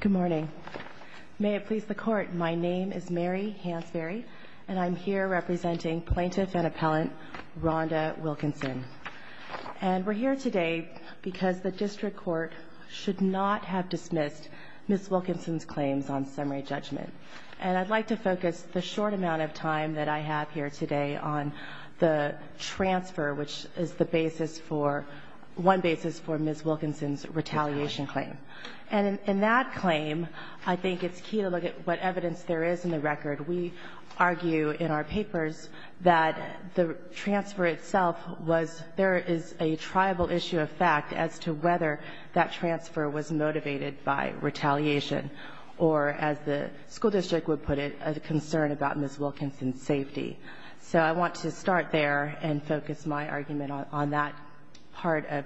Good morning. May it please the Court, my name is Mary Hansberry and I'm here representing Plaintiff and Appellant Rhonda Wilkinson and we're here today because the District Court should not have dismissed Ms. Wilkinson's claims on summary judgment and I'd like to focus the short amount of time that I have here today on the transfer which is the basis for one basis for Ms. Wilkinson's And in that claim, I think it's key to look at what evidence there is in the record. We argue in our papers that the transfer itself was, there is a tribal issue of fact as to whether that transfer was motivated by retaliation or as the school district would put it, a concern about Ms. Wilkinson's safety. So I want to start there and focus my argument on that part of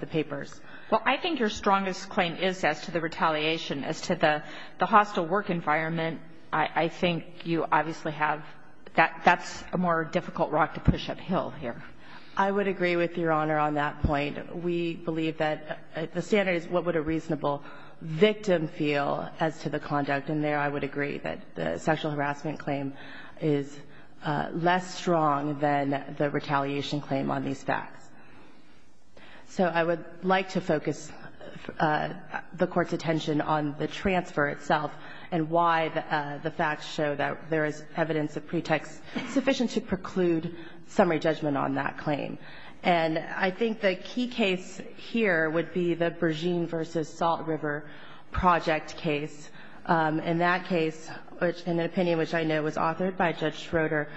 the papers. Well I think your strongest claim is as to the retaliation as to the the hostile work environment. I think you obviously have that that's a more difficult rock to push uphill here. I would agree with Your Honor on that point. We believe that the standard is what would a reasonable victim feel as to the conduct in there. I would agree that the sexual harassment claim is less strong than the So I would like to focus the Court's attention on the transfer itself and why the facts show that there is evidence of pretext sufficient to preclude summary judgment on that claim. And I think the key case here would be the Bergeen v. Salt River Project case. In that case, in an opinion which I know was authored by Judge Schroeder,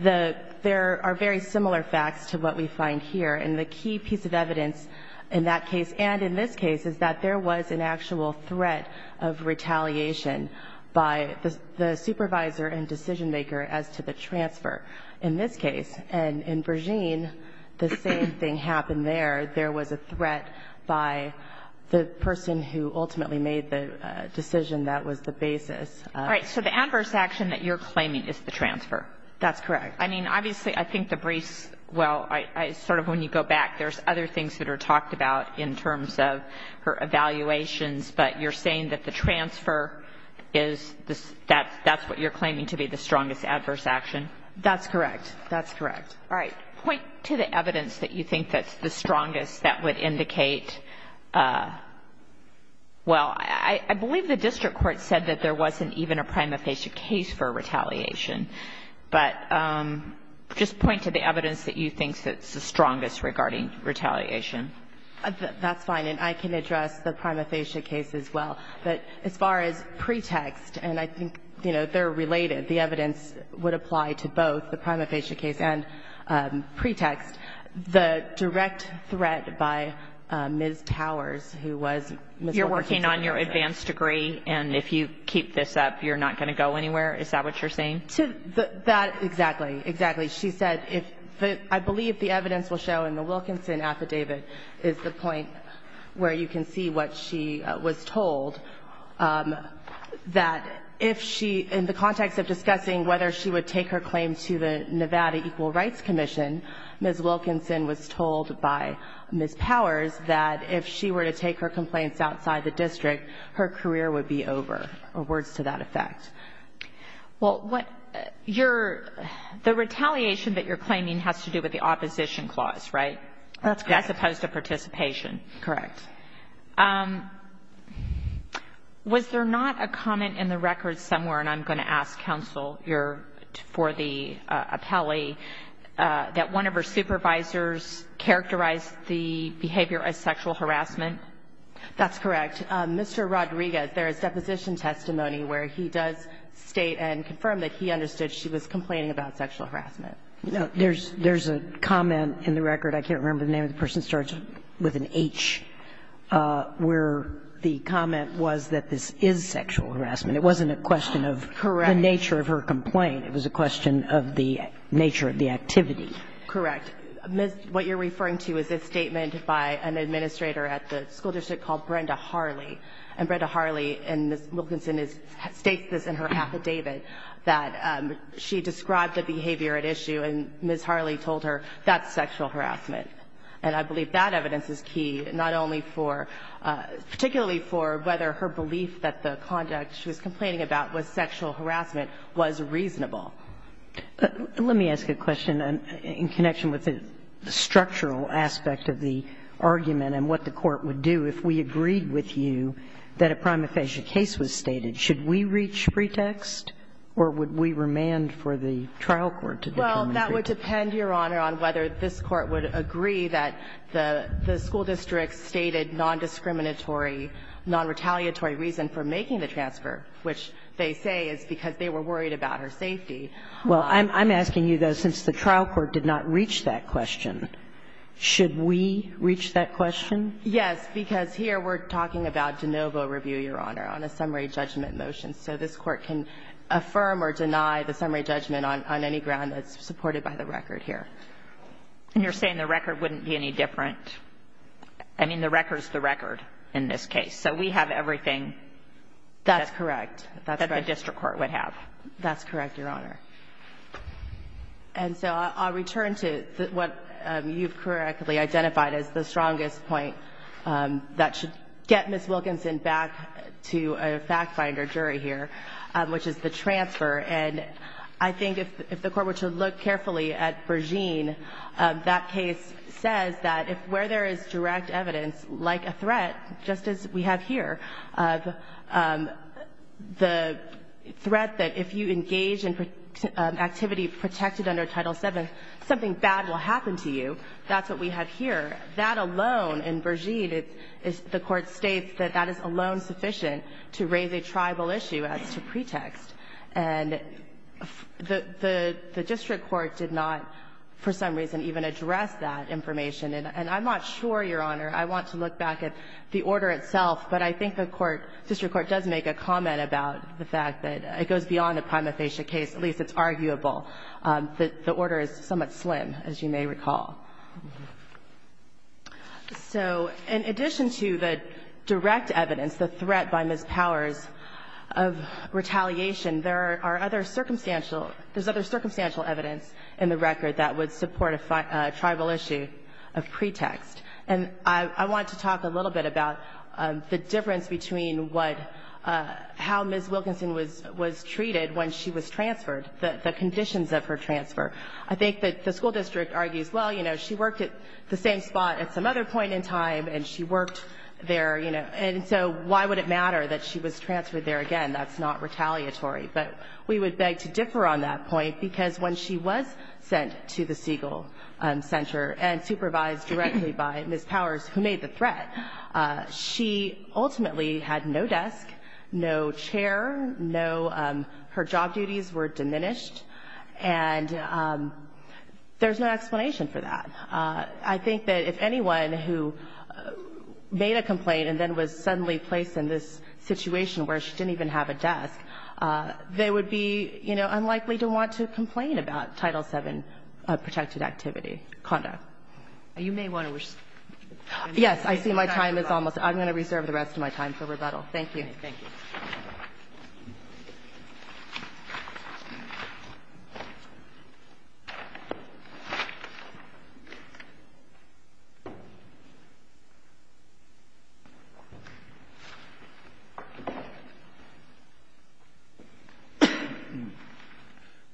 there are very similar facts to what we find here. And the key piece of evidence in that case and in this case is that there was an actual threat of retaliation by the supervisor and decision maker as to the transfer in this case. And in Bergeen, the same thing happened there. There was a threat by the person who ultimately made the decision that was the basis. All right. So the adverse action that you're claiming is the transfer. That's correct. I mean, obviously, I think the briefs, well, I sort of when you go back, there's other things that are talked about in terms of her evaluations. But you're saying that the transfer is that that's what you're claiming to be the strongest adverse action. That's correct. That's correct. All right. Point to the evidence that you think that's the strongest that would Well, I believe the district court said that there wasn't even a prima facie case for retaliation. But just point to the evidence that you think that's the strongest regarding retaliation. That's fine. And I can address the prima facie case as well. But as far as pretext and I think, you know, they're related, the evidence would apply to both the prima You're working on your advanced degree. And if you keep this up, you're not going to go anywhere. Is that what you're saying? To that. Exactly. Exactly. She said if I believe the evidence will show in the Wilkinson affidavit is the point where you can see what she was told that if she in the context of discussing whether she would take her claim to the Nevada Equal Rights Commission, Ms. Powers, that if she were to take her complaints outside the district, her career would be over or words to that effect. Well, what you're the retaliation that you're claiming has to do with the opposition clause, right? That's as opposed to participation. Correct. Was there not a comment in the record somewhere? And I'm going to ask counsel your for the appellee that one of her supervisors characterized the behavior as sexual harassment. That's correct. Mr. Rodriguez, there is deposition testimony where he does state and confirm that he understood she was complaining about sexual harassment. No, there's there's a comment in the record. I can't remember the name of the person starts with an H where the comment was that this is sexual harassment. It wasn't a question of the nature of her complaint. It was a question of the nature of the activity. Correct. Miss, what you're referring to is a statement by an administrator at the school district called Brenda Harley and Brenda Harley. And Wilkinson states this in her affidavit that she described the behavior at issue. And Miss Harley told her that's sexual harassment. And I believe that evidence is key, not only for particularly for whether her belief that the conduct she was complaining about was sexual harassment was reasonable. Let me ask a question in connection with the structural aspect of the argument and what the court would do if we agreed with you that a prima facie case was stated. Should we reach pretext or would we remand for the trial court to determine? Well, that would depend, Your Honor, on whether this court would agree that the school district stated non-discriminatory, non-retaliatory reason for making the transfer, which they say is because they were worried about her safety. Well, I'm asking you, though, since the trial court did not reach that question, should we reach that question? Yes, because here we're talking about de novo review, Your Honor, on a summary judgment motion. So this court can affirm or deny the summary judgment on any ground that's supported by the record here. And you're saying the record wouldn't be any different. I mean, the record's the record in this case. So we have everything. That's correct. That the district court would have. That's correct, Your Honor. And so I'll return to what you've correctly identified as the strongest point that should get Ms. Wilkinson back to a fact-finder jury here, which is the transfer. And I think if the Court were to look carefully at Bergeen, that case says that if where there is direct evidence, like a threat, just as we have here, the threat that if you engage in activity protected under Title VII, something bad will happen to you, that's what we have here. That alone in Bergeen, the Court states that that is alone sufficient to raise a tribal issue as to pretext. And the district court did not, for some reason, even address that information. And I'm not sure, Your Honor, I want to look back at the order itself, but I think the court, district court, does make a comment about the fact that it goes beyond a prima facie case. At least it's arguable that the order is somewhat slim, as you may recall. So in addition to the direct evidence, the threat by Ms. Powers of retaliation, there are other circumstantial – there's other circumstantial evidence in the record that would support a tribal issue of pretext. And I want to talk a little bit about the difference between what – how Ms. Wilkinson was treated when she was transferred, the conditions of her transfer. I think that the school district argues, well, you know, she worked at the same spot at some other point in time, and she worked there, you know, and so why would it matter that she was transferred there again? That's not retaliatory. But we would beg to differ on that point, because when she was sent to the Siegel Center and supervised directly by Ms. Powers, who made the threat, she ultimately had no desk, no chair, no – her job duties were diminished, and there's no explanation for that. I think that if anyone who made a complaint and then was suddenly placed in this situation where she didn't even have a desk, they would be, you know, unlikely to want to complain about Title VII protected activity conduct. You may want to – Yes. I see my time is almost – I'm going to reserve the rest of my time for rebuttal. Thank you. Okay.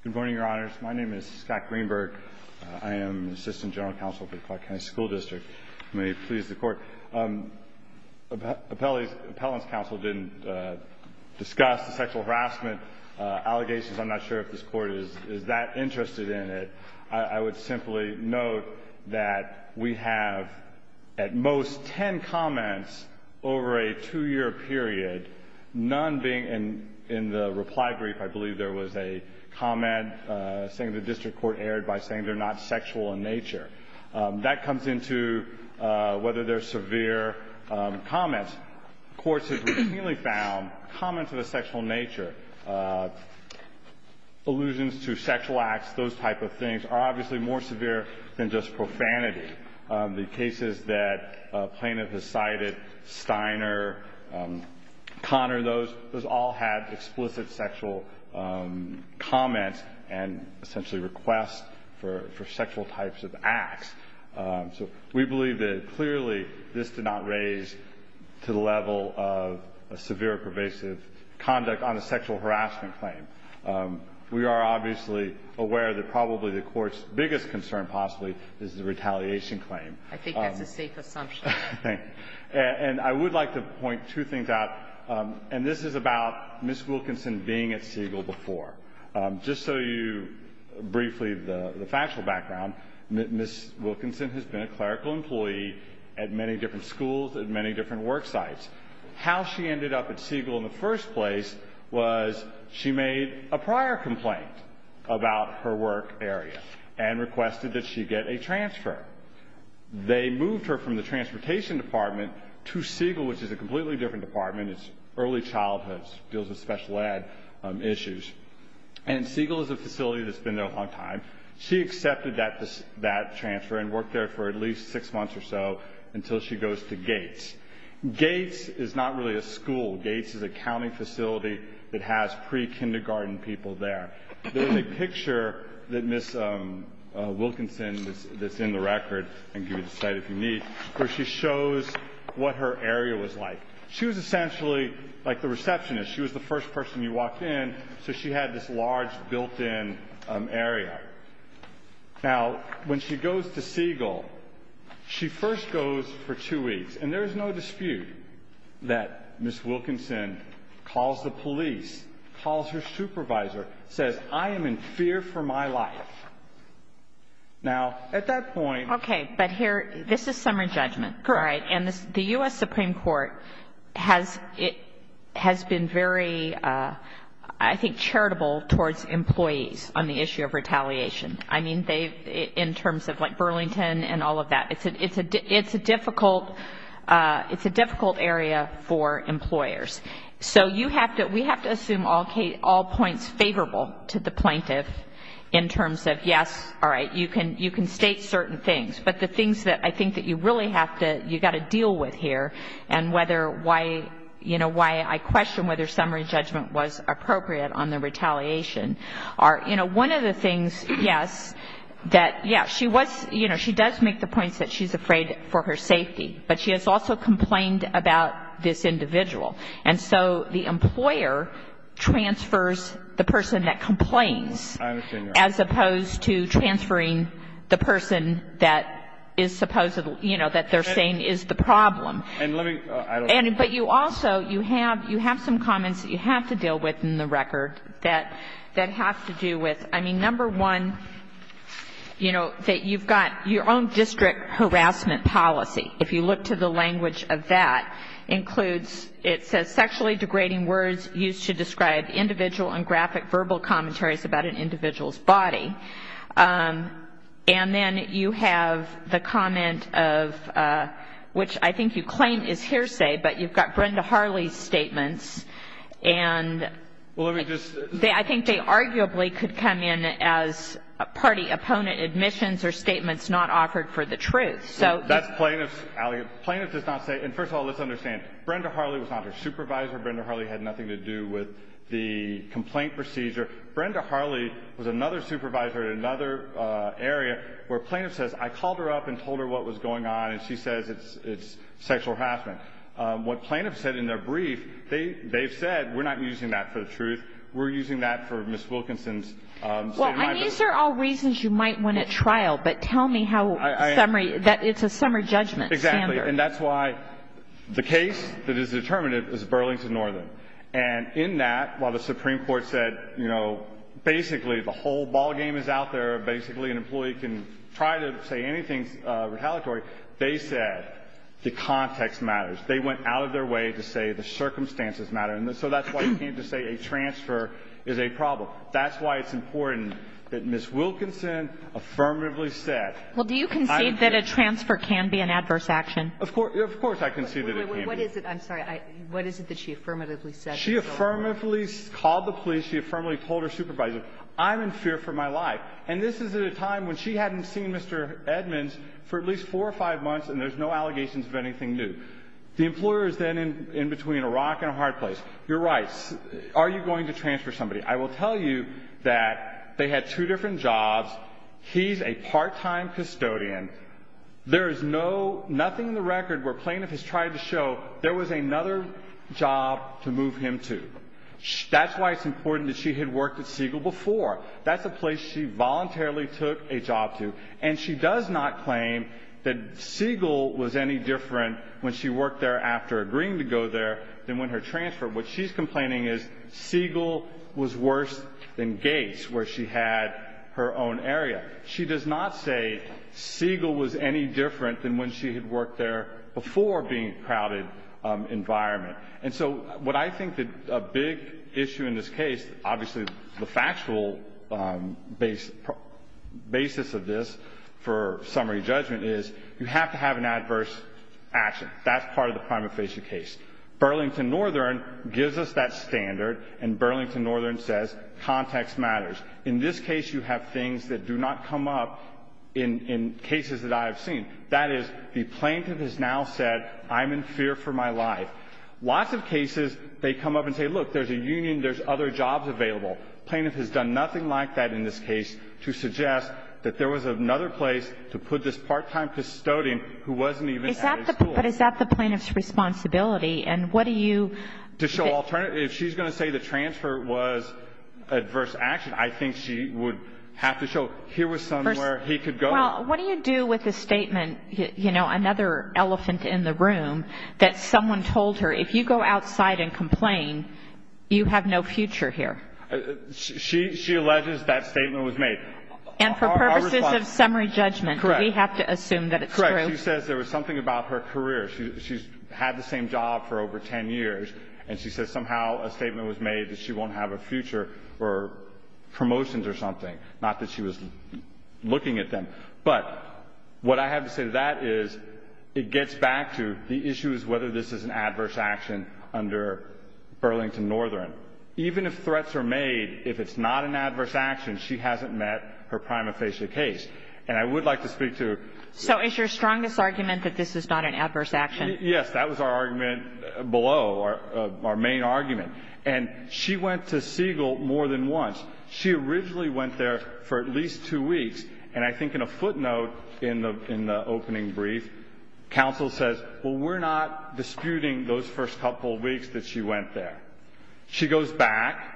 Good morning, Your Honors. My name is Scott Greenberg. I am the Assistant General Counsel for the Clark County School District. May it please the Court. Appellant's counsel didn't discuss the sexual harassment allegations. I'm not sure if this Court is that interested in it. I would simply note that we have, at most, ten comments over a two-year period, none being – in the reply brief, I believe there was a comment saying the district court erred by saying they're not sexual in nature. That comes into whether they're severe comments. Courts have routinely found comments of a sexual nature, allusions to sexual acts, those type of things, are obviously more severe than just profanity. The cases that a plaintiff has cited, Steiner, Connor, those all had explicit sexual comments and essentially requests for sexual types of acts. So we believe that clearly this did not raise to the level of a severe pervasive conduct on a sexual harassment claim. We are obviously aware that probably the Court's biggest concern possibly is the retaliation claim. I think that's a safe assumption. And I would like to point two things out, and this is about Ms. Wilkinson being at Siegel before. Just so you briefly the factual background, Ms. Wilkinson has been a clerical employee at many different schools, at many different work sites. How she ended up at Siegel in the first place was she made a prior complaint about her work area and requested that she get a transfer. They moved her from the Transportation Department to Siegel, which is a completely different department. It's early childhood. It deals with special ed issues. And Siegel is a facility that's been there a long time. She accepted that transfer and worked there for at least six months or so until she goes to Gates. Gates is not really a school. Gates is a county facility that has pre-kindergarten people there. There's a picture that Ms. Wilkinson, that's in the record, I can give you the site if you need, where she shows what her area was like. She was essentially like the receptionist. She was the first person you walked in, so she had this large built-in area. Now, when she goes to Siegel, she first goes for two weeks. And there's no dispute that Ms. Wilkinson calls the police, calls her supervisor, says, I am in fear for my life. Now, at that point... Okay, but here, this is summer judgment, all right, and the U.S. Supreme Court has been very, I think, charitable towards employees on the issue of retaliation. I mean, they've, in terms of like Burlington and all of that. It's a difficult area for employers. So you have to, we have to assume all points favorable to the plaintiff in terms of, yes, all right, you can state certain things, but the things that I think that you really have to, you've got to deal with here, and whether why, you know, why I question whether summary judgment was appropriate on the retaliation are, you know, one of the things, yes, that, yes, she was, you know, she does make the points that she's afraid for her safety, but she has also complained about this individual. And so the employer transfers the person that complains as opposed to transferring the person that is supposed to, you know, that they're saying is the problem. And let me, I don't... And, but you also, you have, you have some comments that you have to deal with in the record that, that have to do with, I mean, number one, you know, that you've got your own district harassment policy. If you look to the language of that, includes, it says, sexually degrading words used to describe individual and graphic verbal commentaries about an individual's body. And then you have the comment of, which I think you claim is hearsay, but you've got Brenda Harley's statements, and they, I think they arguably could come in as party opponent admissions or statements not offered for the truth. So... That's plaintiff's allegation. Plaintiff does not say, and first of all, let's understand, Brenda Harley was not her supervisor. Brenda Harley had nothing to do with the complaint procedure. Brenda Harley was another supervisor at another area where plaintiff says, I called her up and told her what was going on, and she says it's, it's sexual harassment. What plaintiffs said in their brief, they, they've said, we're not using that for the truth. We're using that for Ms. Wilkinson's statement. Well, and these are all reasons you might win at trial, but tell me how summary, that it's a summary judgment standard. Exactly. And that's why the case that is determinative is Burlington Northern. And in that, while the Supreme Court said, you know, basically the whole ballgame is out there, basically an employee can try to say anything retaliatory, they said the context matters. They went out of their way to say the circumstances matter. So that's why you can't just say a transfer is a problem. That's why it's important that Ms. Wilkinson affirmatively said. Well, do you concede that a transfer can be an adverse action? Of course, of course I concede that it can be. What is it? I'm sorry. What is it that she affirmatively said? She affirmatively called the police. She affirmatively told her supervisor, I'm in fear for my life. And this is at a time when she hadn't seen Mr. Edmonds for at least four or five months, and there's no allegations of anything new. The employer is then in, in between a rock and a hard place. You're right. Are you going to transfer somebody? I will tell you that they had two different jobs. He's a part-time custodian. There is no, nothing in the record where plaintiff has tried to show there was another job to move him to. That's why it's important that she had worked at Siegel before. That's a place she voluntarily took a job to. And she does not claim that Siegel was any different when she worked there after agreeing to go there than when her transfer. What she's complaining is Siegel was worse than Gates, where she had her own area. She does not say Siegel was any different than when she had worked there before being in a crowded environment. And so what I think that a big issue in this case, obviously the factual basis of this for summary judgment is, you have to have an adverse action. That's part of the prima facie case. Burlington Northern gives us that standard, and Burlington Northern says context matters. In this case, you have things that do not come up in cases that I have seen. That is, the plaintiff has now said, I'm in fear for my life. Lots of cases, they come up and say, look, there's a union, there's other jobs available. Plaintiff has done nothing like that in this case to suggest that there was another place to put this part-time custodian who wasn't even at his school. But is that the plaintiff's responsibility? And what do you? To show alternative, if she's going to say the transfer was adverse action, I think she would have to show, here was somewhere he could go. Well, what do you do with a statement, you know, another elephant in the room, that someone told her, if you go outside and complain, you have no future here? She alleges that statement was made. And for purposes of summary judgment, we have to assume that it's true. Correct. She says there was something about her career. She's had the same job for over 10 years. And she says somehow a statement was made that she won't have a future for promotions or something, not that she was looking at them. But what I have to say to that is, it gets back to the issue is whether this is an adverse action under Burlington Northern. Even if threats are made, if it's not an adverse action, she hasn't met her prima facie case. And I would like to speak to- So is your strongest argument that this is not an adverse action? Yes, that was our argument below, our main argument. And she went to Siegel more than once. She originally went there for at least two weeks. And I think in a footnote in the opening brief, counsel says, well, we're not disputing those first couple weeks that she went there. She goes back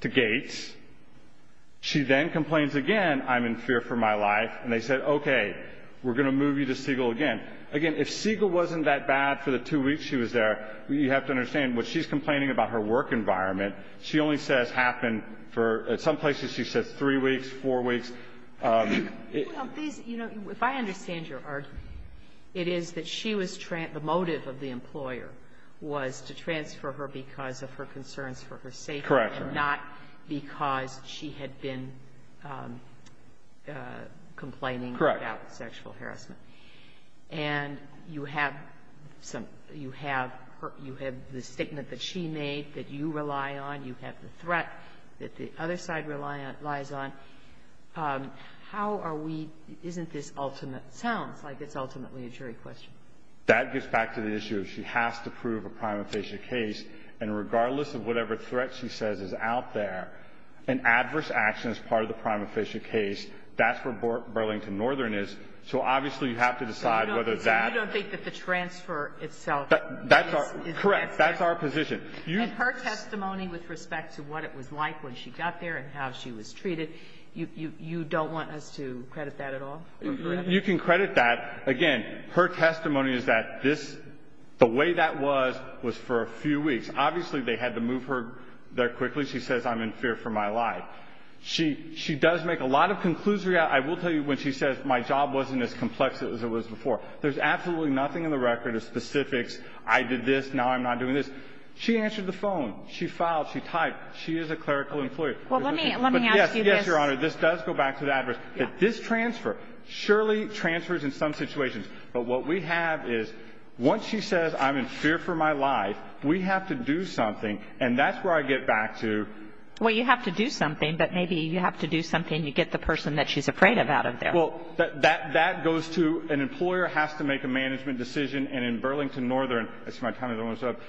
to Gates. She then complains again, I'm in fear for my life. And they said, okay, we're going to move you to Siegel again. Again, if Siegel wasn't that bad for the two weeks she was there, you have to understand what she's complaining about her work environment. She only says happened for, at some places, she says three weeks, four weeks. If I understand your argument, it is that she was, the motive of the employer was to transfer her because of her concerns for her safety. Correct. And not because she had been complaining about sexual harassment. And you have the statement that she made that you rely on, you have the threat that the other side relies on. How are we, isn't this ultimate, sounds like it's ultimately a jury question. That gets back to the issue, she has to prove a prima facie case. And regardless of whatever threat she says is out there, an adverse action is part of the prima facie case. That's where Burlington Northern is. So obviously, you have to decide whether that- So you don't think that the transfer itself- That's correct, that's our position. And her testimony with respect to what it was like when she got there and how she was treated, you don't want us to credit that at all? You can credit that. Again, her testimony is that this, the way that was, was for a few weeks. Obviously, they had to move her there quickly. She says, I'm in fear for my life. She does make a lot of conclusions. I will tell you when she says my job wasn't as complex as it was before. There's absolutely nothing in the record of specifics. I did this, now I'm not doing this. She answered the phone, she filed, she typed, she is a clerical employee. Well, let me ask you this. Yes, Your Honor, this does go back to the adverse. That this transfer surely transfers in some situations. But what we have is, once she says, I'm in fear for my life, we have to do something, and that's where I get back to- Well, you have to do something, but maybe you have to do something to get the person that she's afraid of out of there. Well, that goes to, an employer has to make a management decision. And in Burlington Northern, that's my town I don't want to show up,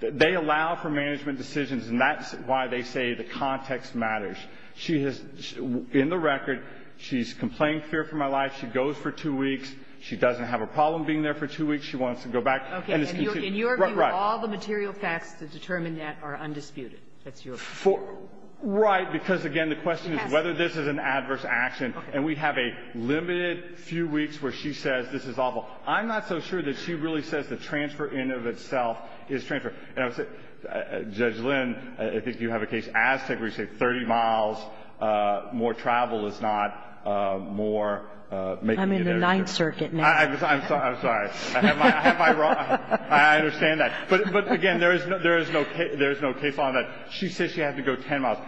that they allow for management decisions. And that's why they say the context matters. She has, in the record, she's complaining fear for my life. She goes for two weeks. She doesn't have a problem being there for two weeks. She wants to go back. Okay, in your view, all the material facts to determine that are undisputed. That's your view. Right, because again, the question is whether this is an adverse action. And we have a limited few weeks where she says, this is awful. I'm not so sure that she really says the transfer in of itself is transfer. And I would say, Judge Lynn, I think you have a case, Aztec, where you say 30 miles more travel is not more making an interest. I'm in the Ninth Circuit now. I'm sorry, I'm sorry. Am I wrong? I understand that. But again, there is no case on that. She says she has to go 10 miles.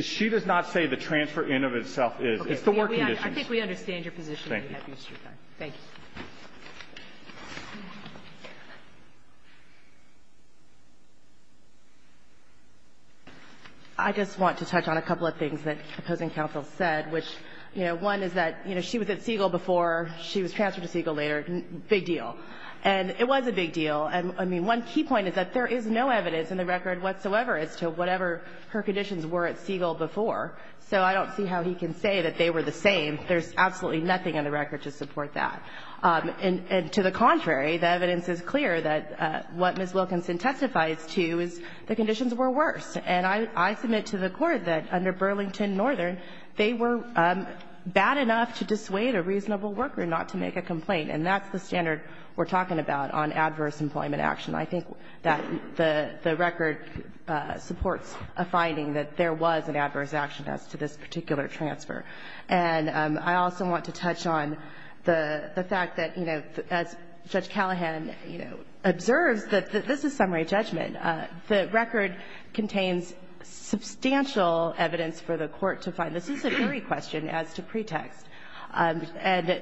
She does not say the transfer in of itself is. It's the work conditions. I think we understand your position. Thank you. Thank you. I just want to touch on a couple of things that opposing counsel said, which, you know, one is that, you know, she was at Siegel before. She was transferred to Siegel later. Big deal. And it was a big deal. And, I mean, one key point is that there is no evidence in the record whatsoever as to whatever her conditions were at Siegel before. So I don't see how he can say that they were the same. There's absolutely nothing in the record to support that. And to the contrary, the evidence is clear that what Ms. Wilkinson testifies to is the conditions were worse. And I submit to the Court that under Burlington Northern, they were bad enough to dissuade a reasonable worker not to make a complaint. And that's the standard we're talking about on adverse employment action. I think that the record supports a finding that there was an adverse action as to this particular transfer. And I also want to touch on the fact that, you know, as Judge Callahan, you know, observes that this is summary judgment. The record contains substantial evidence for the Court to find. This is an eerie question as to pretext. And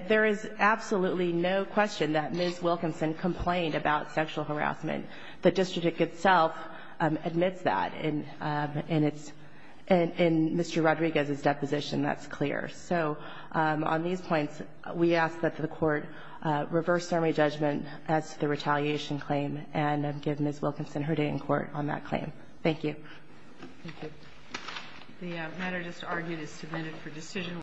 there is absolutely no question that Ms. Wilkinson complained about sexual harassment. The district itself admits that in its — in Mr. Rodriguez's deposition. That's clear. So on these points, we ask that the Court reverse summary judgment as to the retaliation claim and give Ms. Wilkinson her day in court on that claim. Thank you. Thank you. The matter just argued is submitted for decision.